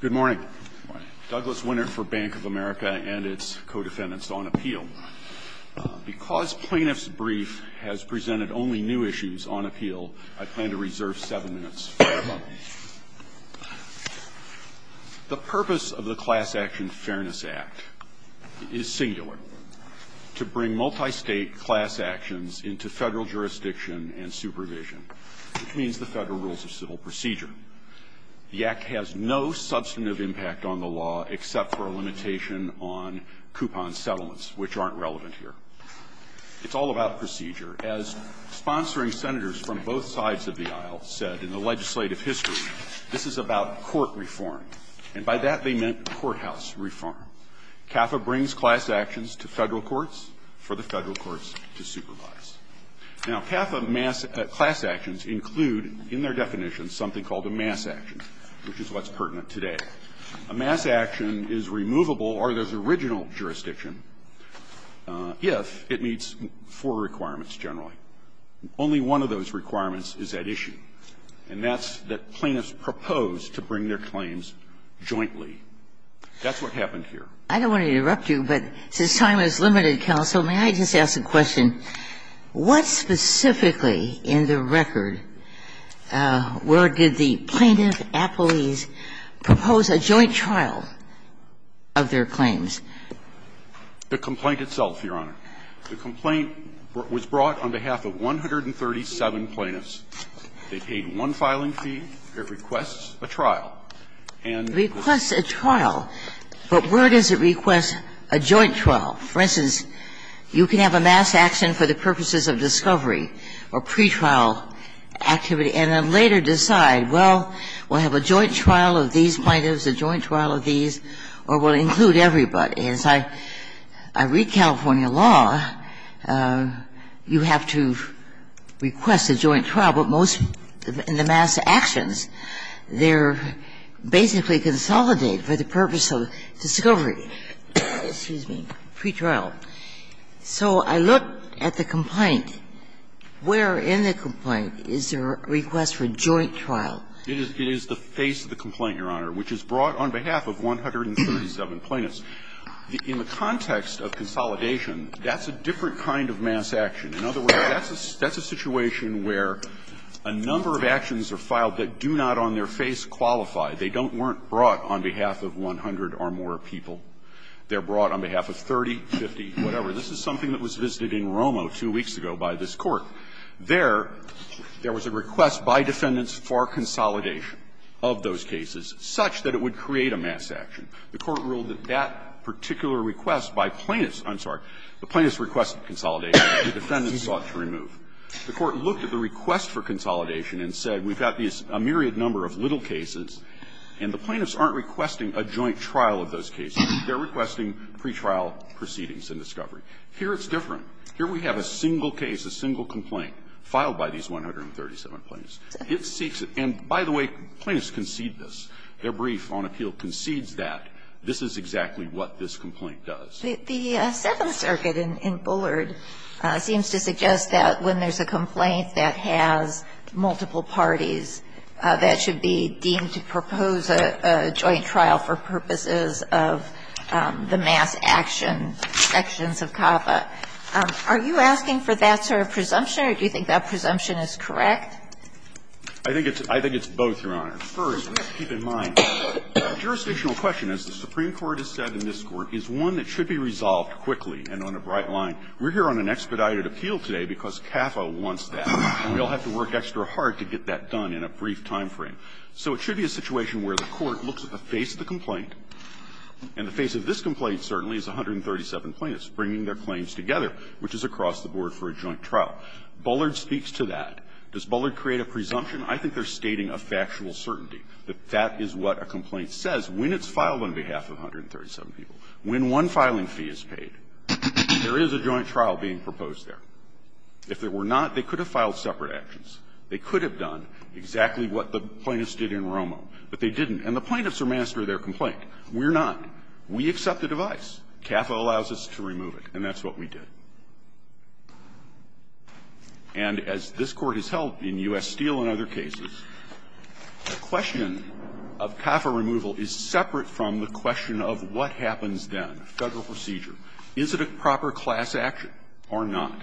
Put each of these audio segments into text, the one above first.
Good morning. Douglas Winter for Bank of America and its co-defendants on appeal. Because plaintiff's brief has presented only new issues on appeal, I plan to reserve seven minutes. The purpose of the Class Action Fairness Act is singular, to bring multistate class actions into federal jurisdiction and supervision, which means the federal rules of civil procedure. The Act has no substantive impact on the law, except for a limitation on coupon settlements, which aren't relevant here. It's all about procedure. As sponsoring senators from both sides of the aisle said in the legislative history, this is about court reform. And by that, they meant courthouse reform. CAFA brings class actions to federal courts for the federal courts to supervise. Now, CAFA class actions include, in their definition, something called a mass action, which is what's pertinent today. A mass action is removable, or there's original jurisdiction, if it meets four requirements generally. Only one of those requirements is at issue, and that's that plaintiffs propose to bring their claims jointly. That's what happened here. I don't want to interrupt you, but since time is limited, counsel, may I just ask a question? What specifically in the record, where did the plaintiff, Apoles, propose a joint trial of their claims? The complaint itself, Your Honor. The complaint was brought on behalf of 137 plaintiffs. They paid one filing fee. It requests a trial. And it requests a trial. But where does it request a joint trial? For instance, you could have a mass action for the purposes of discovery or pretrial activity and then later decide, well, we'll have a joint trial of these plaintiffs, a joint trial of these, or we'll include everybody. As I read California law, you have to request a joint trial. But most of the mass actions, they're basically consolidated for the purpose of discovery or, excuse me, pretrial. So I look at the complaint. Where in the complaint is there a request for joint trial? It is the face of the complaint, Your Honor, which is brought on behalf of 137 plaintiffs. In the context of consolidation, that's a different kind of mass action. In other words, that's a situation where a number of actions are filed that do not on their face qualify. They don't bring brought on behalf of 100 or more people. They're brought on behalf of 30, 50, whatever. This is something that was visited in Romo two weeks ago by this Court. There, there was a request by defendants for consolidation of those cases such that it would create a mass action. The Court ruled that that particular request by plaintiffs – I'm sorry, the plaintiffs requested consolidation, the defendants sought to remove. The Court looked at the request for consolidation and said, we've got these myriad number of little cases, and the plaintiffs aren't requesting a joint trial of those cases. They're requesting pretrial proceedings and discovery. Here it's different. Here we have a single case, a single complaint filed by these 137 plaintiffs. It seeks – and by the way, plaintiffs concede this. Their brief on appeal concedes that this is exactly what this complaint does. The Seventh Circuit in Bullard seems to suggest that when there's a complaint that has multiple parties, that should be deemed to propose a joint trial for purposes of the mass action sections of CAFA. Are you asking for that sort of presumption, or do you think that presumption is correct? I think it's both, Your Honor. First, we have to keep in mind, a jurisdictional question, as the Supreme Court has said in this Court, is one that should be resolved quickly and on a bright line. We're here on an expedited appeal today because CAFA wants that, and we all have to work extra hard to get that done in a brief time frame. So it should be a situation where the Court looks at the face of the complaint, and the face of this complaint, certainly, is 137 plaintiffs bringing their claims together, which is across the board for a joint trial. Bullard speaks to that. Does Bullard create a presumption? I think they're stating a factual certainty. That is what a complaint says when it's filed on behalf of 137 people. When one filing fee is paid, there is a joint trial being proposed there. If there were not, they could have filed separate actions. They could have done exactly what the plaintiffs did in Romo, but they didn't. And the plaintiffs are master of their complaint. We're not. We accept the device. CAFA allows us to remove it, and that's what we did. And as this Court has held in U.S. Steele and other cases, the question of CAFA removal is separate from the question of what happens then, Federal procedure. Is it a proper class action or not?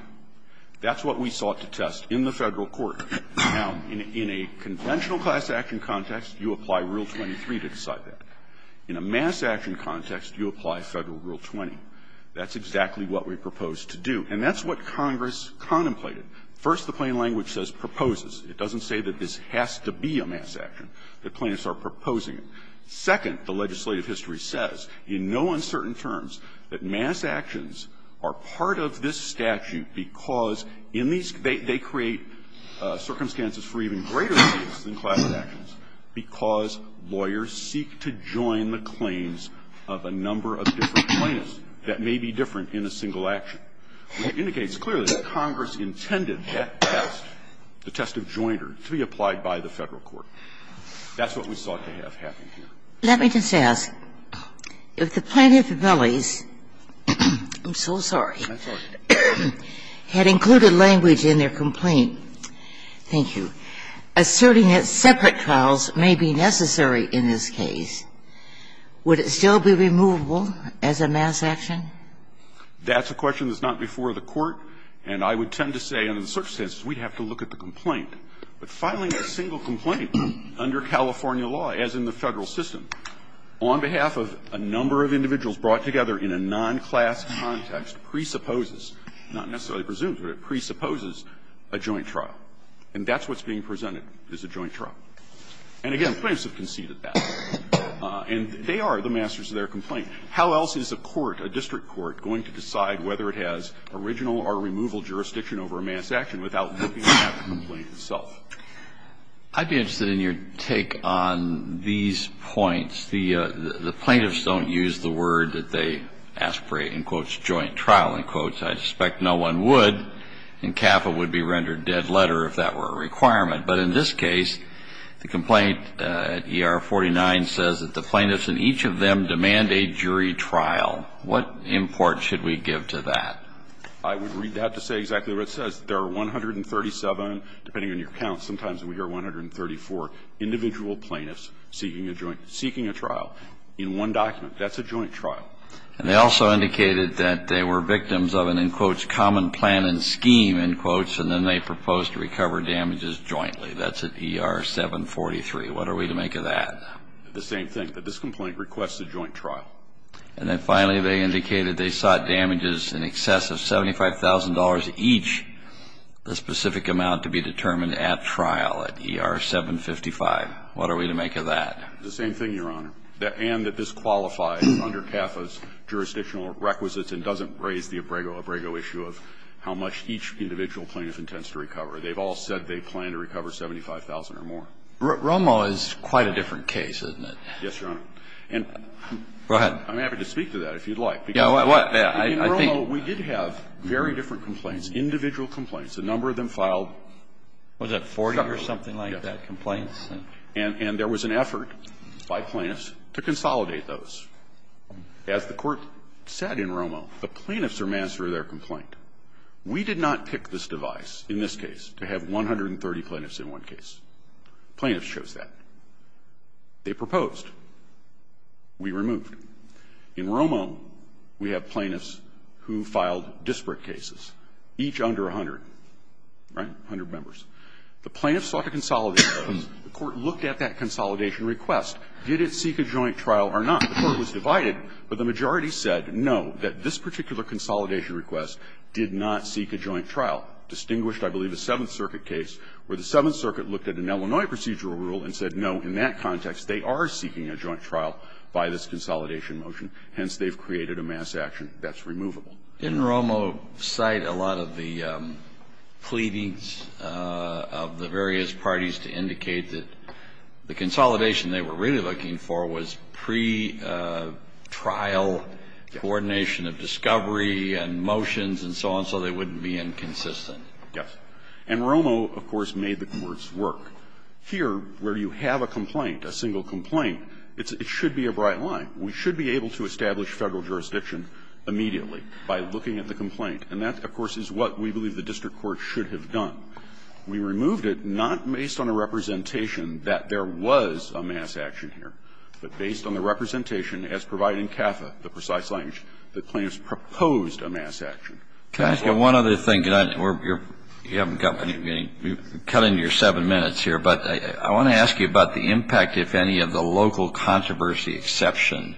That's what we sought to test in the Federal court. Now, in a conventional class action context, you apply Rule 23 to decide that. In a mass action context, you apply Federal Rule 20. That's exactly what we proposed to do. And that's what Congress contemplated. First, the plain language says proposes. It doesn't say that this has to be a mass action, that plaintiffs are proposing it. Second, the legislative history says in no uncertain terms that mass actions are part of this statute because in these they create circumstances for even greater cases than class actions because lawyers seek to join the claims of a number of different plaintiffs. That may be different in a single action. It indicates clearly that Congress intended that test, the test of jointer, to be applied by the Federal court. That's what we sought to have happen here. Ginsburg. Let me just ask, if the plaintiff's families – I'm so sorry – had included language in their complaint, thank you, asserting that separate trials may be necessary in this case, would it still be removable as a mass action? That's a question that's not before the Court, and I would tend to say under the circumstances we'd have to look at the complaint. But filing a single complaint under California law, as in the Federal system, on behalf of a number of individuals brought together in a non-class context presupposes – not necessarily presumes, but it presupposes – a joint trial. And that's what's being presented as a joint trial. And again, plaintiffs have conceded that. And they are the masters of their complaint. How else is a court, a district court, going to decide whether it has original or removal jurisdiction over a mass action without looking at that complaint itself? I'd be interested in your take on these points. The plaintiffs don't use the word that they ask for a, in quotes, joint trial, in quotes. I suspect no one would, and CAFA would be rendered dead letter if that were a requirement. But in this case, the complaint at ER 49 says that the plaintiffs and each of them demand a jury trial. What import should we give to that? I would read that to say exactly what it says. There are 137, depending on your count, sometimes we hear 134 individual plaintiffs seeking a joint – seeking a trial in one document. That's a joint trial. And they also indicated that they were victims of an, in quotes, common plan and scheme, in quotes, and then they proposed to recover damages jointly. That's at ER 743. What are we to make of that? The same thing, that this complaint requests a joint trial. And then finally, they indicated they sought damages in excess of $75,000 each, the specific amount to be determined at trial at ER 755. What are we to make of that? The same thing, Your Honor. And that this qualifies under CAFA's jurisdictional requisites and doesn't raise the Abrego-Abrego issue of how much each individual plaintiff intends to recover. They've all said they plan to recover $75,000 or more. Romo is quite a different case, isn't it? Yes, Your Honor. And I'm happy to speak to that if you'd like. Yeah. I think we did have very different complaints, individual complaints. A number of them filed shutters. Was it 40 or something like that, complaints? And there was an effort by plaintiffs to consolidate those. As the Court said in Romo, the plaintiffs are master of their complaint. We did not pick this device, in this case, to have 130 plaintiffs in one case. Plaintiffs chose that. They proposed. We removed. In Romo, we have plaintiffs who filed disparate cases, each under 100, right, 100 members. The plaintiffs sought to consolidate those. The Court looked at that consolidation request. Did it seek a joint trial or not? The Court was divided, but the majority said, no, that this particular consolidation request did not seek a joint trial, distinguished, I believe, a Seventh Circuit case where the Seventh Circuit looked at an Illinois procedural rule and said, no, in that context, they are seeking a joint trial by this consolidation motion. Hence, they've created a mass action that's removable. Didn't Romo cite a lot of the pleadings of the various parties to indicate that the trial coordination of discovery and motions and so on, so they wouldn't be inconsistent? Yes. And Romo, of course, made the courts work. Here, where you have a complaint, a single complaint, it should be a bright line. We should be able to establish Federal jurisdiction immediately by looking at the complaint. And that, of course, is what we believe the district court should have done. We removed it not based on a representation that there was a mass action here, but based on the representation as provided in CAFA, the precise language, that Plaintiff's proposed a mass action. Can I ask you one other thing? You haven't got any, you're cutting your seven minutes here, but I want to ask you about the impact, if any, of the local controversy exception.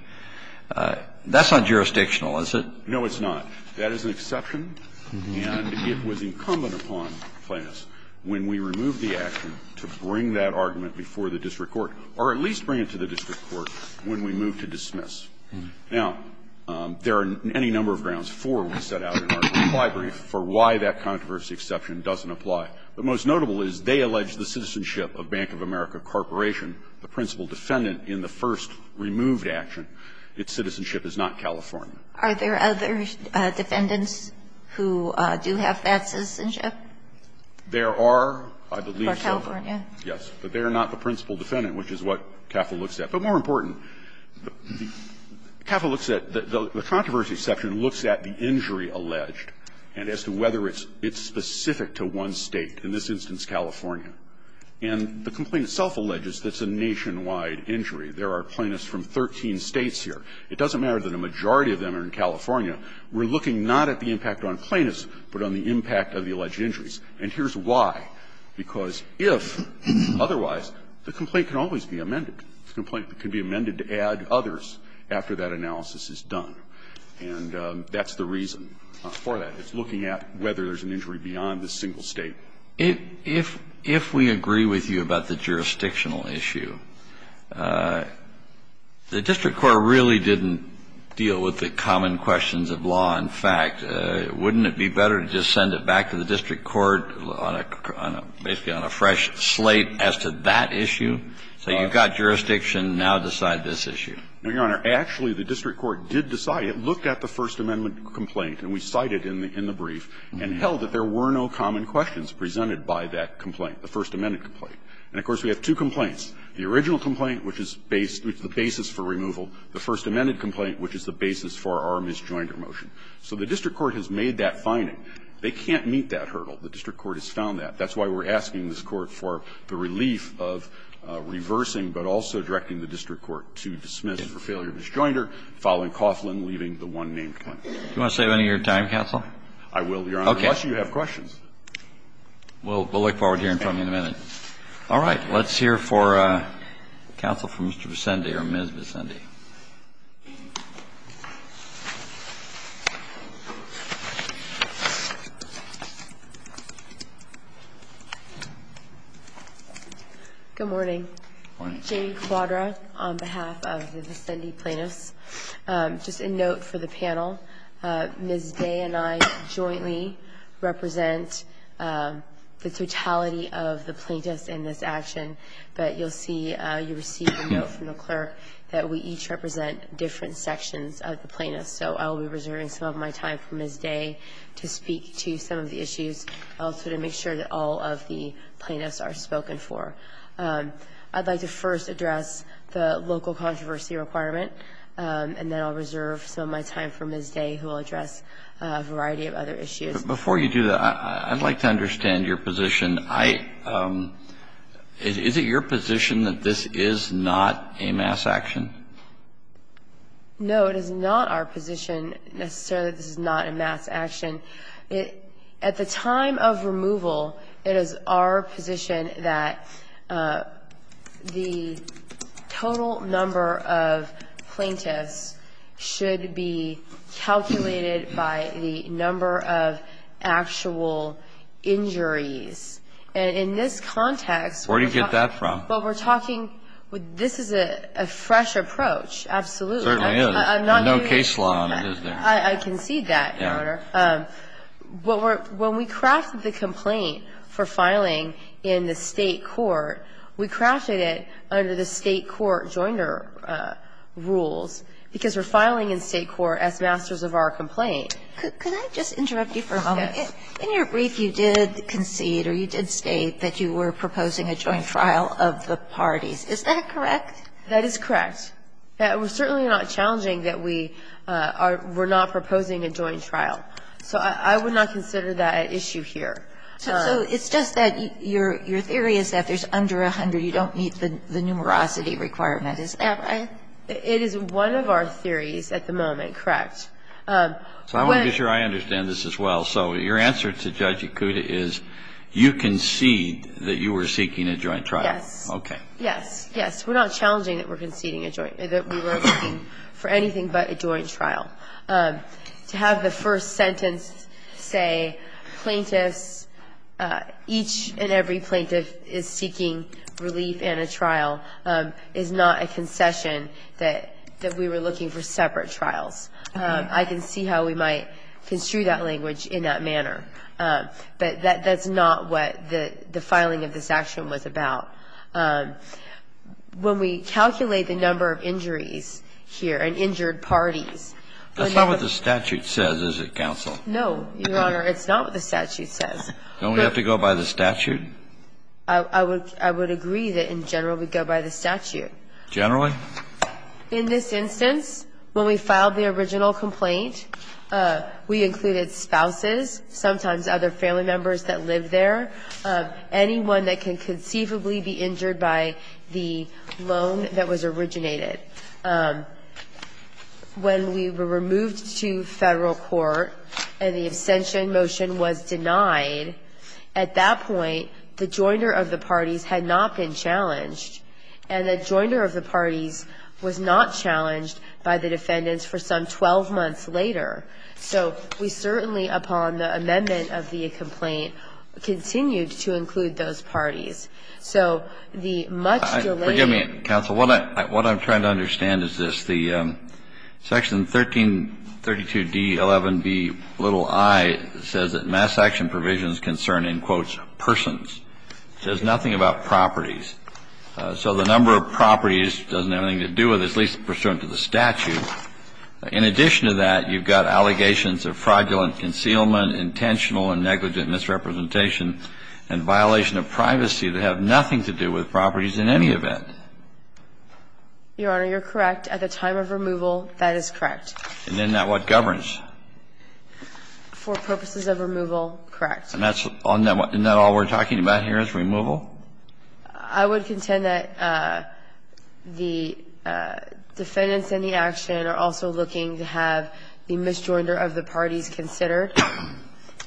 That's not jurisdictional, is it? No, it's not. That is an exception, and it was incumbent upon Plaintiffs when we removed the action to bring that argument before the district court, or at least bring it to the district court when we moved to dismiss. Now, there are any number of grounds, four we set out in our brief for why that controversy exception doesn't apply. But most notable is they allege the citizenship of Bank of America Corporation, the principal defendant in the first removed action, its citizenship is not California. Are there other defendants who do have that citizenship? There are, I believe so. Yes, but they are not the principal defendant, which is what CAFA looks at. But more important, CAFA looks at the controversy exception, looks at the injury alleged, and as to whether it's specific to one State, in this instance, California. And the complaint itself alleges that's a nationwide injury. There are Plaintiffs from 13 States here. It doesn't matter that a majority of them are in California. We're looking not at the impact on Plaintiffs, but on the impact of the alleged injuries, and here's why. Because if, otherwise, the complaint can always be amended. The complaint can be amended to add others after that analysis is done. And that's the reason for that. It's looking at whether there's an injury beyond the single State. If we agree with you about the jurisdictional issue, the district court really didn't deal with the common questions of law and fact. Kennedy, wouldn't it be better to just send it back to the district court on a fresh slate as to that issue, say you've got jurisdiction, now decide this issue? No, Your Honor. Actually, the district court did decide. It looked at the First Amendment complaint, and we cited it in the brief, and held that there were no common questions presented by that complaint, the First Amendment complaint. And, of course, we have two complaints, the original complaint, which is the basis for removal, the First Amendment complaint, which is the basis for our misjointed motion. So the district court has made that finding. They can't meet that hurdle. The district court has found that. That's why we're asking this Court for the relief of reversing, but also directing the district court to dismiss for failure of misjoinder, following Coughlin, leaving the one-name claim. Do you want to save any of your time, counsel? I will, Your Honor, unless you have questions. Okay. We'll look forward to hearing from you in a minute. All right. Let's hear for counsel from Mr. Vicendi or Ms. Vicendi. Good morning. Jamie Cuadra on behalf of the Vicendi plaintiffs. Just a note for the panel, Ms. Day and I jointly represent the totality of the plaintiffs in this action. But you'll see, you received a note from the clerk that we each represent the plaintiffs in this action. We each represent different sections of the plaintiffs. So I will be reserving some of my time for Ms. Day to speak to some of the issues, also to make sure that all of the plaintiffs are spoken for. I'd like to first address the local controversy requirement, and then I'll reserve some of my time for Ms. Day, who will address a variety of other issues. But before you do that, I'd like to understand your position. Is it your position that this is not a mass action? No, it is not our position necessarily that this is not a mass action. At the time of removal, it is our position that the total number of plaintiffs should be calculated by the number of actual injuries. And in this context we're talking – Where do you get that from? Well, we're talking – this is a fresh approach, absolutely. It certainly is. I'm not going to – There's no case law on it, is there? I concede that, Your Honor. Yeah. When we crafted the complaint for filing in the State court, we crafted it under the State court joiner rules, because we're filing in State court as masters of our complaint. Could I just interrupt you for a moment? Yes. In your brief, you did concede or you did state that you were proposing a joint trial of the parties. Is that correct? That is correct. It was certainly not challenging that we are – were not proposing a joint trial. So I would not consider that an issue here. So it's just that your theory is that if there's under 100, you don't meet the numerosity requirement, is that right? It is one of our theories at the moment, correct. So I want to be sure I understand this as well. So your answer to Judge Yakuta is you concede that you were seeking a joint trial. Yes. Okay. Yes. Yes. We're not challenging that we're conceding a joint – that we were looking for anything but a joint trial. To have the first sentence say, plaintiffs – each and every plaintiff is seeking relief in a trial is not a concession that we were looking for separate trials. I can see how we might construe that language in that manner. But that's not what the filing of this action was about. When we calculate the number of injuries here and injured parties – That's not what the statute says, is it, counsel? No, Your Honor. It's not what the statute says. Don't we have to go by the statute? I would agree that in general we go by the statute. Generally? In this instance, when we filed the original complaint, we included spouses, sometimes other family members that lived there, anyone that can conceivably be injured by the loan that was originated. When we were removed to Federal court and the abstention motion was denied, at that point the joiner of the parties had not been challenged, and the joiner of the parties was not challenged by the defendants for some 12 months later. So we certainly, upon the amendment of the complaint, continued to include those parties. So the much delayed – Forgive me, counsel. What I'm trying to understand is this. The section 1332d11bi says that mass action provisions concern, in quotes, persons. It says nothing about properties. So the number of properties doesn't have anything to do with it, at least pursuant to the statute. In addition to that, you've got allegations of fraudulent concealment, intentional and negligent misrepresentation, and violation of privacy that have nothing to do with properties in any event. Your Honor, you're correct. At the time of removal, that is correct. And then that what governs? For purposes of removal, correct. And that's – and that all we're talking about here is removal? I would contend that the defendants in the action are also looking to have the misjoiner of the parties considered.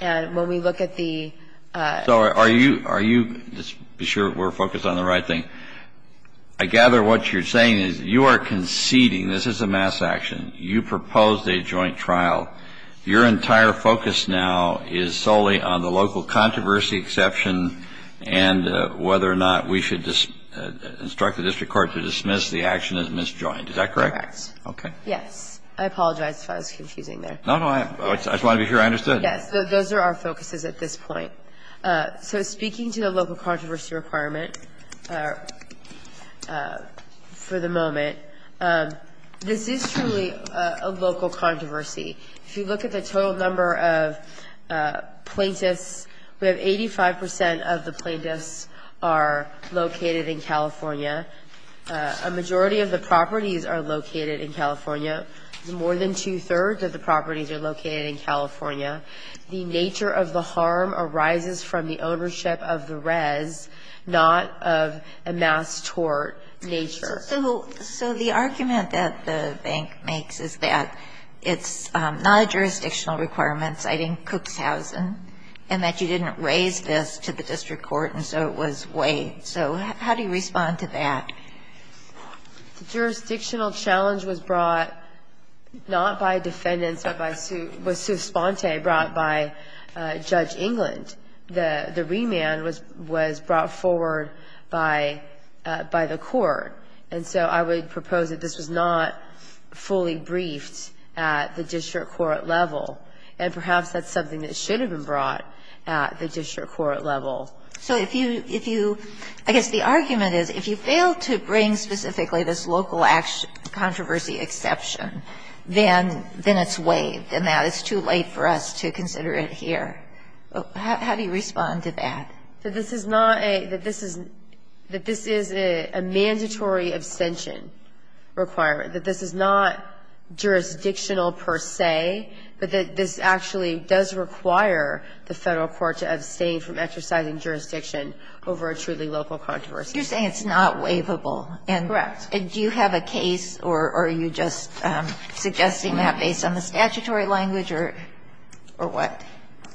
And when we look at the – So are you – are you – just be sure we're focused on the right thing. I gather what you're saying is you are conceding this is a mass action. You proposed a joint trial. Your entire focus now is solely on the local controversy exception and whether or not we should instruct the district court to dismiss the action as misjoined. Is that correct? Correct. Okay. Yes. I apologize if I was confusing there. No, no. I just wanted to be sure I understood. Yes. Those are our focuses at this point. So speaking to the local controversy requirement for the moment, this is truly a local controversy. If you look at the total number of plaintiffs, we have 85 percent of the plaintiffs are located in California. A majority of the properties are located in California. More than two-thirds of the properties are located in California. The nature of the harm arises from the ownership of the res, not of a mass tort nature. So the argument that the bank makes is that it's not a jurisdictional requirement, citing Cookshousen, and that you didn't raise this to the district court, and so it was weighed. So how do you respond to that? The jurisdictional challenge was brought not by defendants, but by Sue Sponte, brought by Judge England. The remand was brought forward by the court. And so I would propose that this was not fully briefed at the district court level, and perhaps that's something that should have been brought at the district court level. So if you – if you – I guess the argument is if you fail to bring specifically this local controversy exception, then it's weighed, and that it's too late for us to consider it here. How do you respond to that? That this is not a – that this is a mandatory abstention requirement, that this is not jurisdictional per se, but that this actually does require the Federal court to abstain from exercising jurisdiction over a truly local controversy. You're saying it's not waivable. Correct. And do you have a case, or are you just suggesting that based on the statutory language, or what?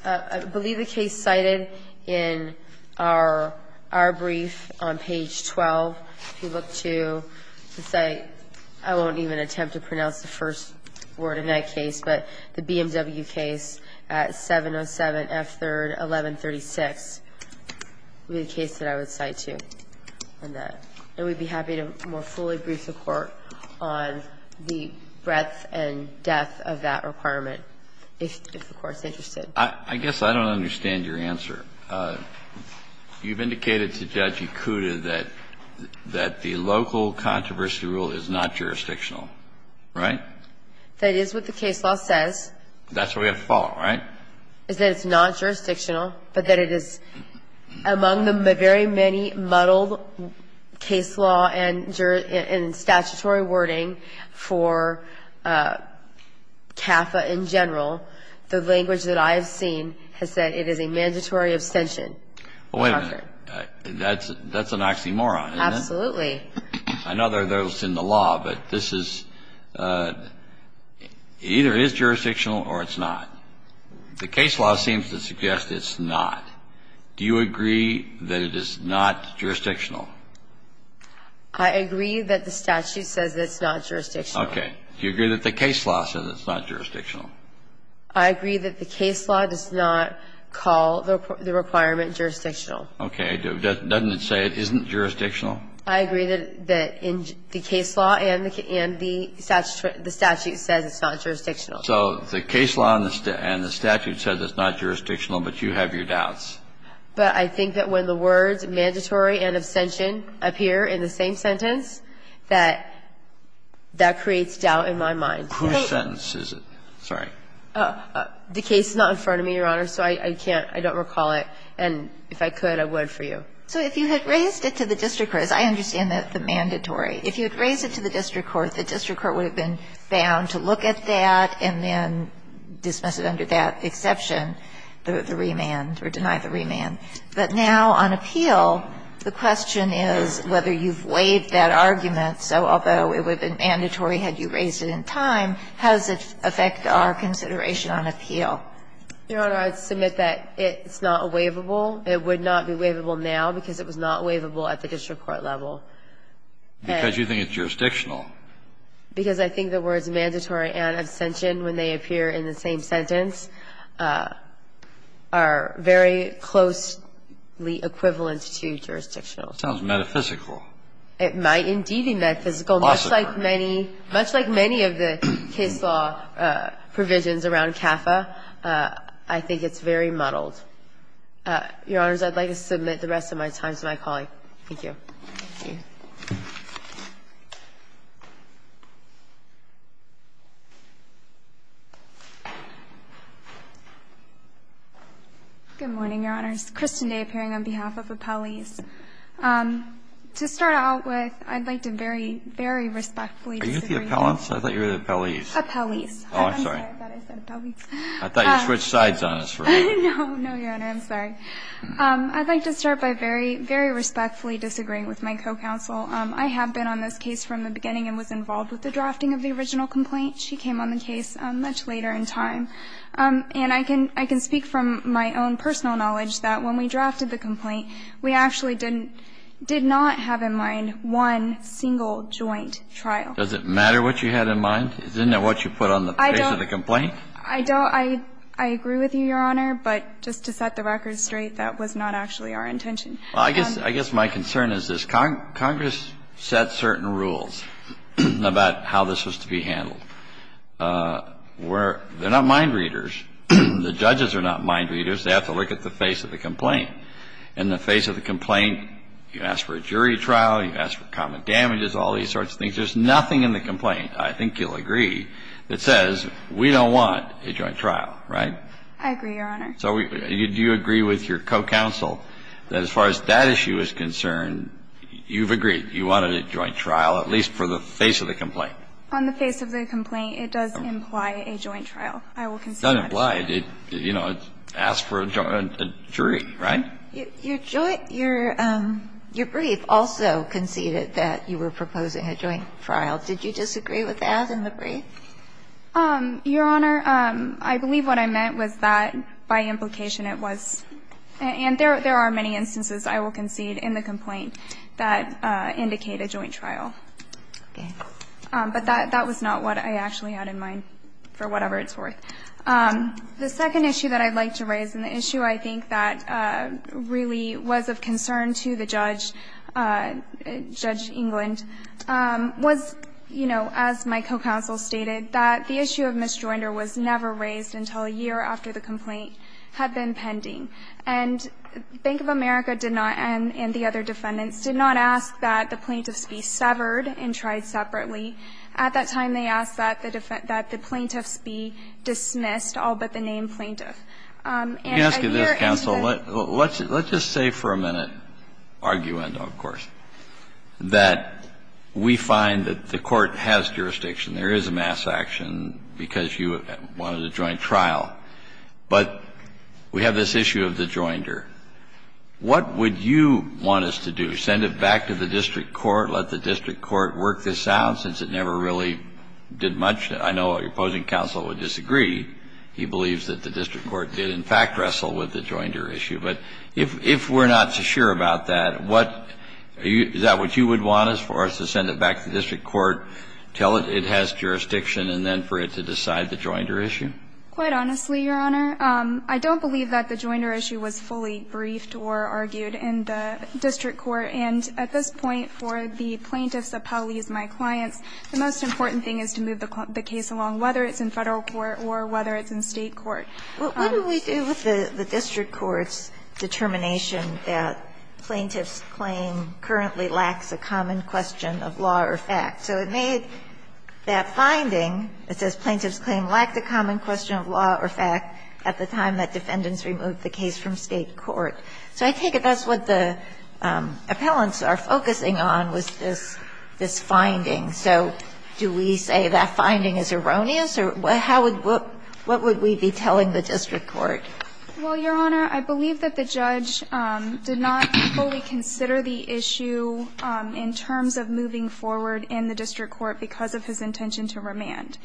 I believe the case cited in our brief on page 12, if you look to the site, I won't even attempt to pronounce the first word in that case, but the BMW case at 707F3-1136 would be the case that I would cite to on that. And we'd be happy to more fully brief the Court on the breadth and depth of that requirement if the Court's interested. I guess I don't understand your answer. You've indicated to Judge Ikuda that the local controversy rule is not jurisdictional. Right? That is what the case law says. That's what we have to follow, right? It's that it's not jurisdictional, but that it is among the very many muddled case law and statutory wording for CAFA in general, the language that I have seen has said it is a mandatory abstention. Well, wait a minute. That's an oxymoron, isn't it? Absolutely. I know there are those in the law, but this is either it is jurisdictional or it's not. The case law seems to suggest it's not. Do you agree that it is not jurisdictional? I agree that the statute says it's not jurisdictional. Okay. Do you agree that the case law says it's not jurisdictional? I agree that the case law does not call the requirement jurisdictional. Okay. Doesn't it say it isn't jurisdictional? I agree that in the case law and the statute says it's not jurisdictional. So the case law and the statute says it's not jurisdictional, but you have your doubts. But I think that when the words mandatory and abstention appear in the same sentence, that that creates doubt in my mind. Whose sentence is it? Sorry. The case is not in front of me, Your Honor, so I can't, I don't recall it. And if I could, I would for you. So if you had raised it to the district court, as I understand it, the mandatory. If you had raised it to the district court, the district court would have been bound to look at that and then dismiss it under that exception, the remand or deny the remand. But now on appeal, the question is whether you've waived that argument. So although it would have been mandatory had you raised it in time, how does it affect our consideration on appeal? Your Honor, I would submit that it's not a waivable. It would not be waivable now because it was not waivable at the district court level. Because you think it's jurisdictional. Because I think the words mandatory and abstention, when they appear in the same sentence, are very closely equivalent to jurisdictional. It sounds metaphysical. It might indeed be metaphysical, much like many, much like many of the case law provisions around CAFA. I think it's very muddled. Your Honors, I'd like to submit the rest of my time to my colleague. Thank you. Thank you. Good morning, Your Honors. Kristen Day appearing on behalf of appellees. To start out with, I'd like to very, very respectfully disagree. Are you the appellants? I thought you were the appellees. Appellees. Oh, I'm sorry. I thought you said appellees. I thought you switched sides on us. No, no, Your Honor. I'm sorry. I'd like to start by very, very respectfully disagreeing with my co-counsel. I have been on this case from the beginning and was involved with the drafting of the original complaint. She came on the case much later in time. And I can speak from my own personal knowledge that when we drafted the complaint, we actually did not have in mind one single joint trial. Does it matter what you had in mind? Isn't that what you put on the case of the complaint? I don't. I agree with you, Your Honor. But just to set the record straight, that was not actually our intention. I guess my concern is this. Congress set certain rules about how this was to be handled. They're not mind readers. The judges are not mind readers. They have to look at the face of the complaint. In the face of the complaint, you ask for a jury trial, you ask for common damages, all these sorts of things. There's nothing in the complaint, I think you'll agree, that says we don't want a joint trial, right? I agree, Your Honor. So do you agree with your co-counsel that as far as that issue is concerned, you've agreed you wanted a joint trial, at least for the face of the complaint? On the face of the complaint, it does imply a joint trial. I will concede that. It does imply. You know, it asks for a jury, right? Your brief also conceded that you were proposing a joint trial. Did you disagree with that in the brief? Your Honor, I believe what I meant was that by implication it was, and there are many instances, I will concede, in the complaint that indicate a joint trial. Okay. But that was not what I actually had in mind, for whatever it's worth. The second issue that I'd like to raise, and the issue I think that really was of concern to the judge, Judge England, was, you know, as my co-counsel stated, that the issue of misjoinder was never raised until a year after the complaint had been pending. And Bank of America did not, and the other defendants, did not ask that the plaintiffs be severed and tried separately. At that time, they asked that the plaintiffs be dismissed, all but the named plaintiff. Your Honor, even though the defendants put their claims together, I believe that why should they not do the same thing? club If you can ask me this, counsel. Let's just say for a minute, arguendo, of course, that we find that the court has jurisdiction, there is a mass action because you wanted a joint trial. But we have this issue of the joinder. What would you want us to do? Send it back to the district court, let the district court work this out, since it never really did much? I know your opposing counsel would disagree. He believes that the district court did in fact wrestle with the joinder issue. But if we're not so sure about that, what do you do? Is that what you would want us, for us to send it back to the district court, tell it it has jurisdiction, and then for it to decide the joinder issue? Quite honestly, Your Honor, I don't believe that the joinder issue was fully briefed or argued in the district court. And at this point, for the plaintiffs, the Pauleys, my clients, the most important thing is to move the case along, whether it's in Federal court or whether it's in State court. What do we do with the district court's determination that plaintiff's claim currently lacks a common question of law or fact? So it made that finding that says plaintiff's claim lacked a common question of law or fact at the time that defendants removed the case from State court. So I take it that's what the appellants are focusing on, was this finding. So do we say that finding is erroneous, or how would we be telling the district court? Well, Your Honor, I believe that the judge did not fully consider the issue in terms of moving forward in the district court because of his intention to remand.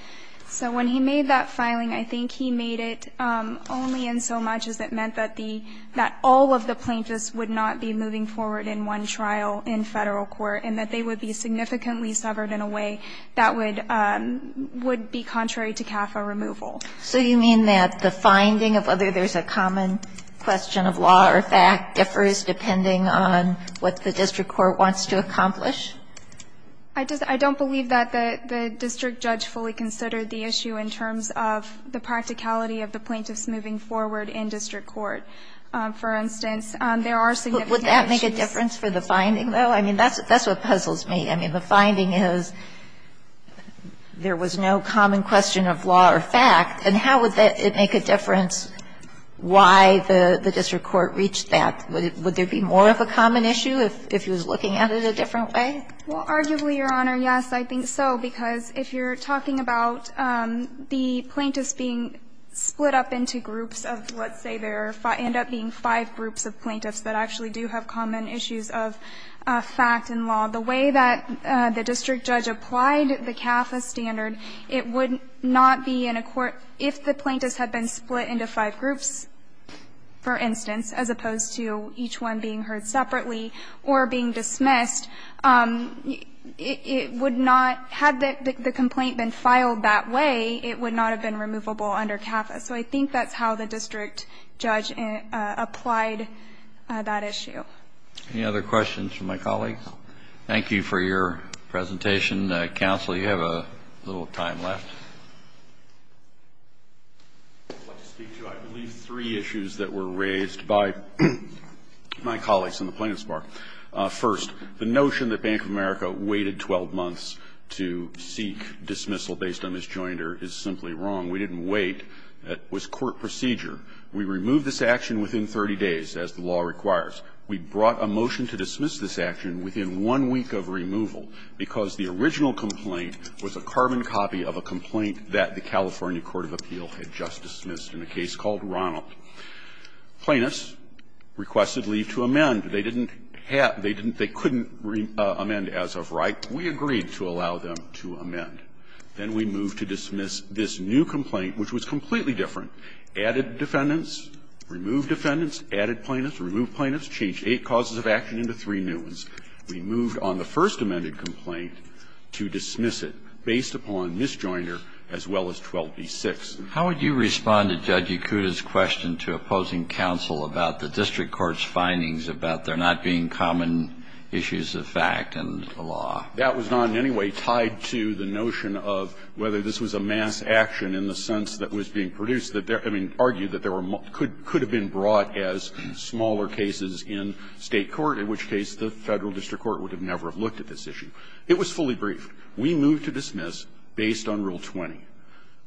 So when he made that filing, I think he made it only in so much as it meant that the – that all of the plaintiffs would not be moving forward in one trial in Federal court, and that they would be significantly severed in a way that would be contrary to CAFA removal. So you mean that the finding of whether there's a common question of law or fact differs depending on what the district court wants to accomplish? I just – I don't believe that the district judge fully considered the issue in terms of the practicality of the plaintiffs moving forward in district court. For instance, there are significant issues – Would that make a difference for the finding, though? I mean, that's what puzzles me. I mean, the finding is there was no common question of law or fact, and how would it make a difference why the district court reached that? Would there be more of a common issue if he was looking at it a different way? Well, arguably, Your Honor, yes, I think so, because if you're talking about the plaintiffs being split up into groups of, let's say, there end up being five groups of plaintiffs that actually do have common issues of fact and law, the way that the district judge applied the CAFA standard, it would not be in a court – if the plaintiffs had been split into five groups, for instance, as opposed to each one being heard separately or being dismissed, it would not – had the complaint been filed that way, it would not have been removable under CAFA. So I think that's how the district judge applied that issue. Any other questions from my colleagues? Thank you for your presentation. Counsel, you have a little time left. I'd like to speak to, I believe, three issues that were raised by Mr. Gershengorn and my colleagues in the Plaintiff's Bar. First, the notion that Bank of America waited 12 months to seek dismissal based on misjoinder is simply wrong. We didn't wait. It was court procedure. We removed this action within 30 days, as the law requires. We brought a motion to dismiss this action within one week of removal because the original complaint was a carbon copy of a complaint that the California court of appeal had just dismissed in a case called Ronald. Plaintiffs requested leave to amend. They didn't have – they couldn't amend as of right. We agreed to allow them to amend. Then we moved to dismiss this new complaint, which was completely different. Added defendants, removed defendants, added plaintiffs, removed plaintiffs, changed eight causes of action into three new ones. We moved on the first amended complaint to dismiss it based upon misjoinder as well as 12b-6. Kennedy, how would you respond to Judge Yakuta's question to opposing counsel about the district court's findings about there not being common issues of fact and the law? That was not in any way tied to the notion of whether this was a mass action in the sense that was being produced. I mean, argued that there were – could have been brought as smaller cases in State court, in which case the Federal district court would have never looked at this issue. It was fully briefed. We moved to dismiss based on Rule 20.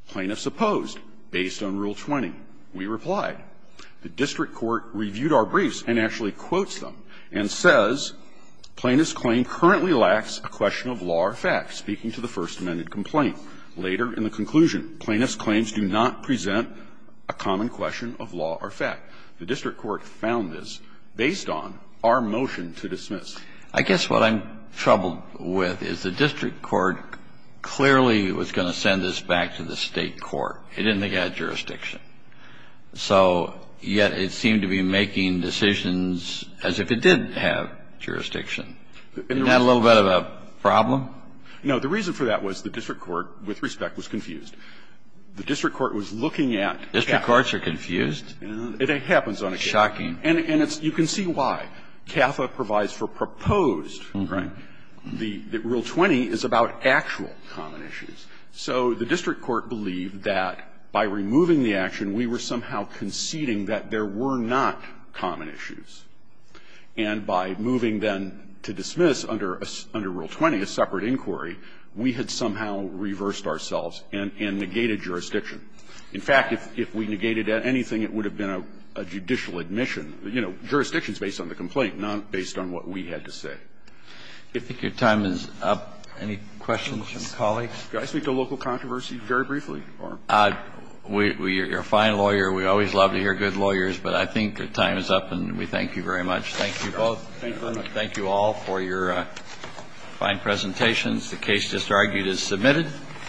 Plaintiffs opposed. Based on Rule 20, we replied. The district court reviewed our briefs and actually quotes them and says, Plaintiff's claim currently lacks a question of law or fact, speaking to the first amended complaint. Later in the conclusion, plaintiff's claims do not present a common question of law or fact. The district court found this based on our motion to dismiss. I guess what I'm troubled with is the district court clearly was going to send this back to the State court. It didn't think it had jurisdiction. So yet it seemed to be making decisions as if it did have jurisdiction. Isn't that a little bit of a problem? No. The reason for that was the district court, with respect, was confused. The district court was looking at the fact that the district courts are confused. It happens on a case. Shocking. And it's – you can see why. CAFA provides for proposed. Okay. The Rule 20 is about actual common issues. So the district court believed that by removing the action, we were somehow conceding that there were not common issues. And by moving then to dismiss under Rule 20, a separate inquiry, we had somehow reversed ourselves and negated jurisdiction. In fact, if we negated anything, it would have been a judicial admission. You know, jurisdiction is based on the complaint, not based on what we had to say. I think your time is up. Any questions from colleagues? Do I speak to local controversy very briefly? We're a fine lawyer. We always love to hear good lawyers, but I think your time is up, and we thank you very much. Thank you both. Thank you very much. Thank you all for your fine presentations. The case just argued is submitted.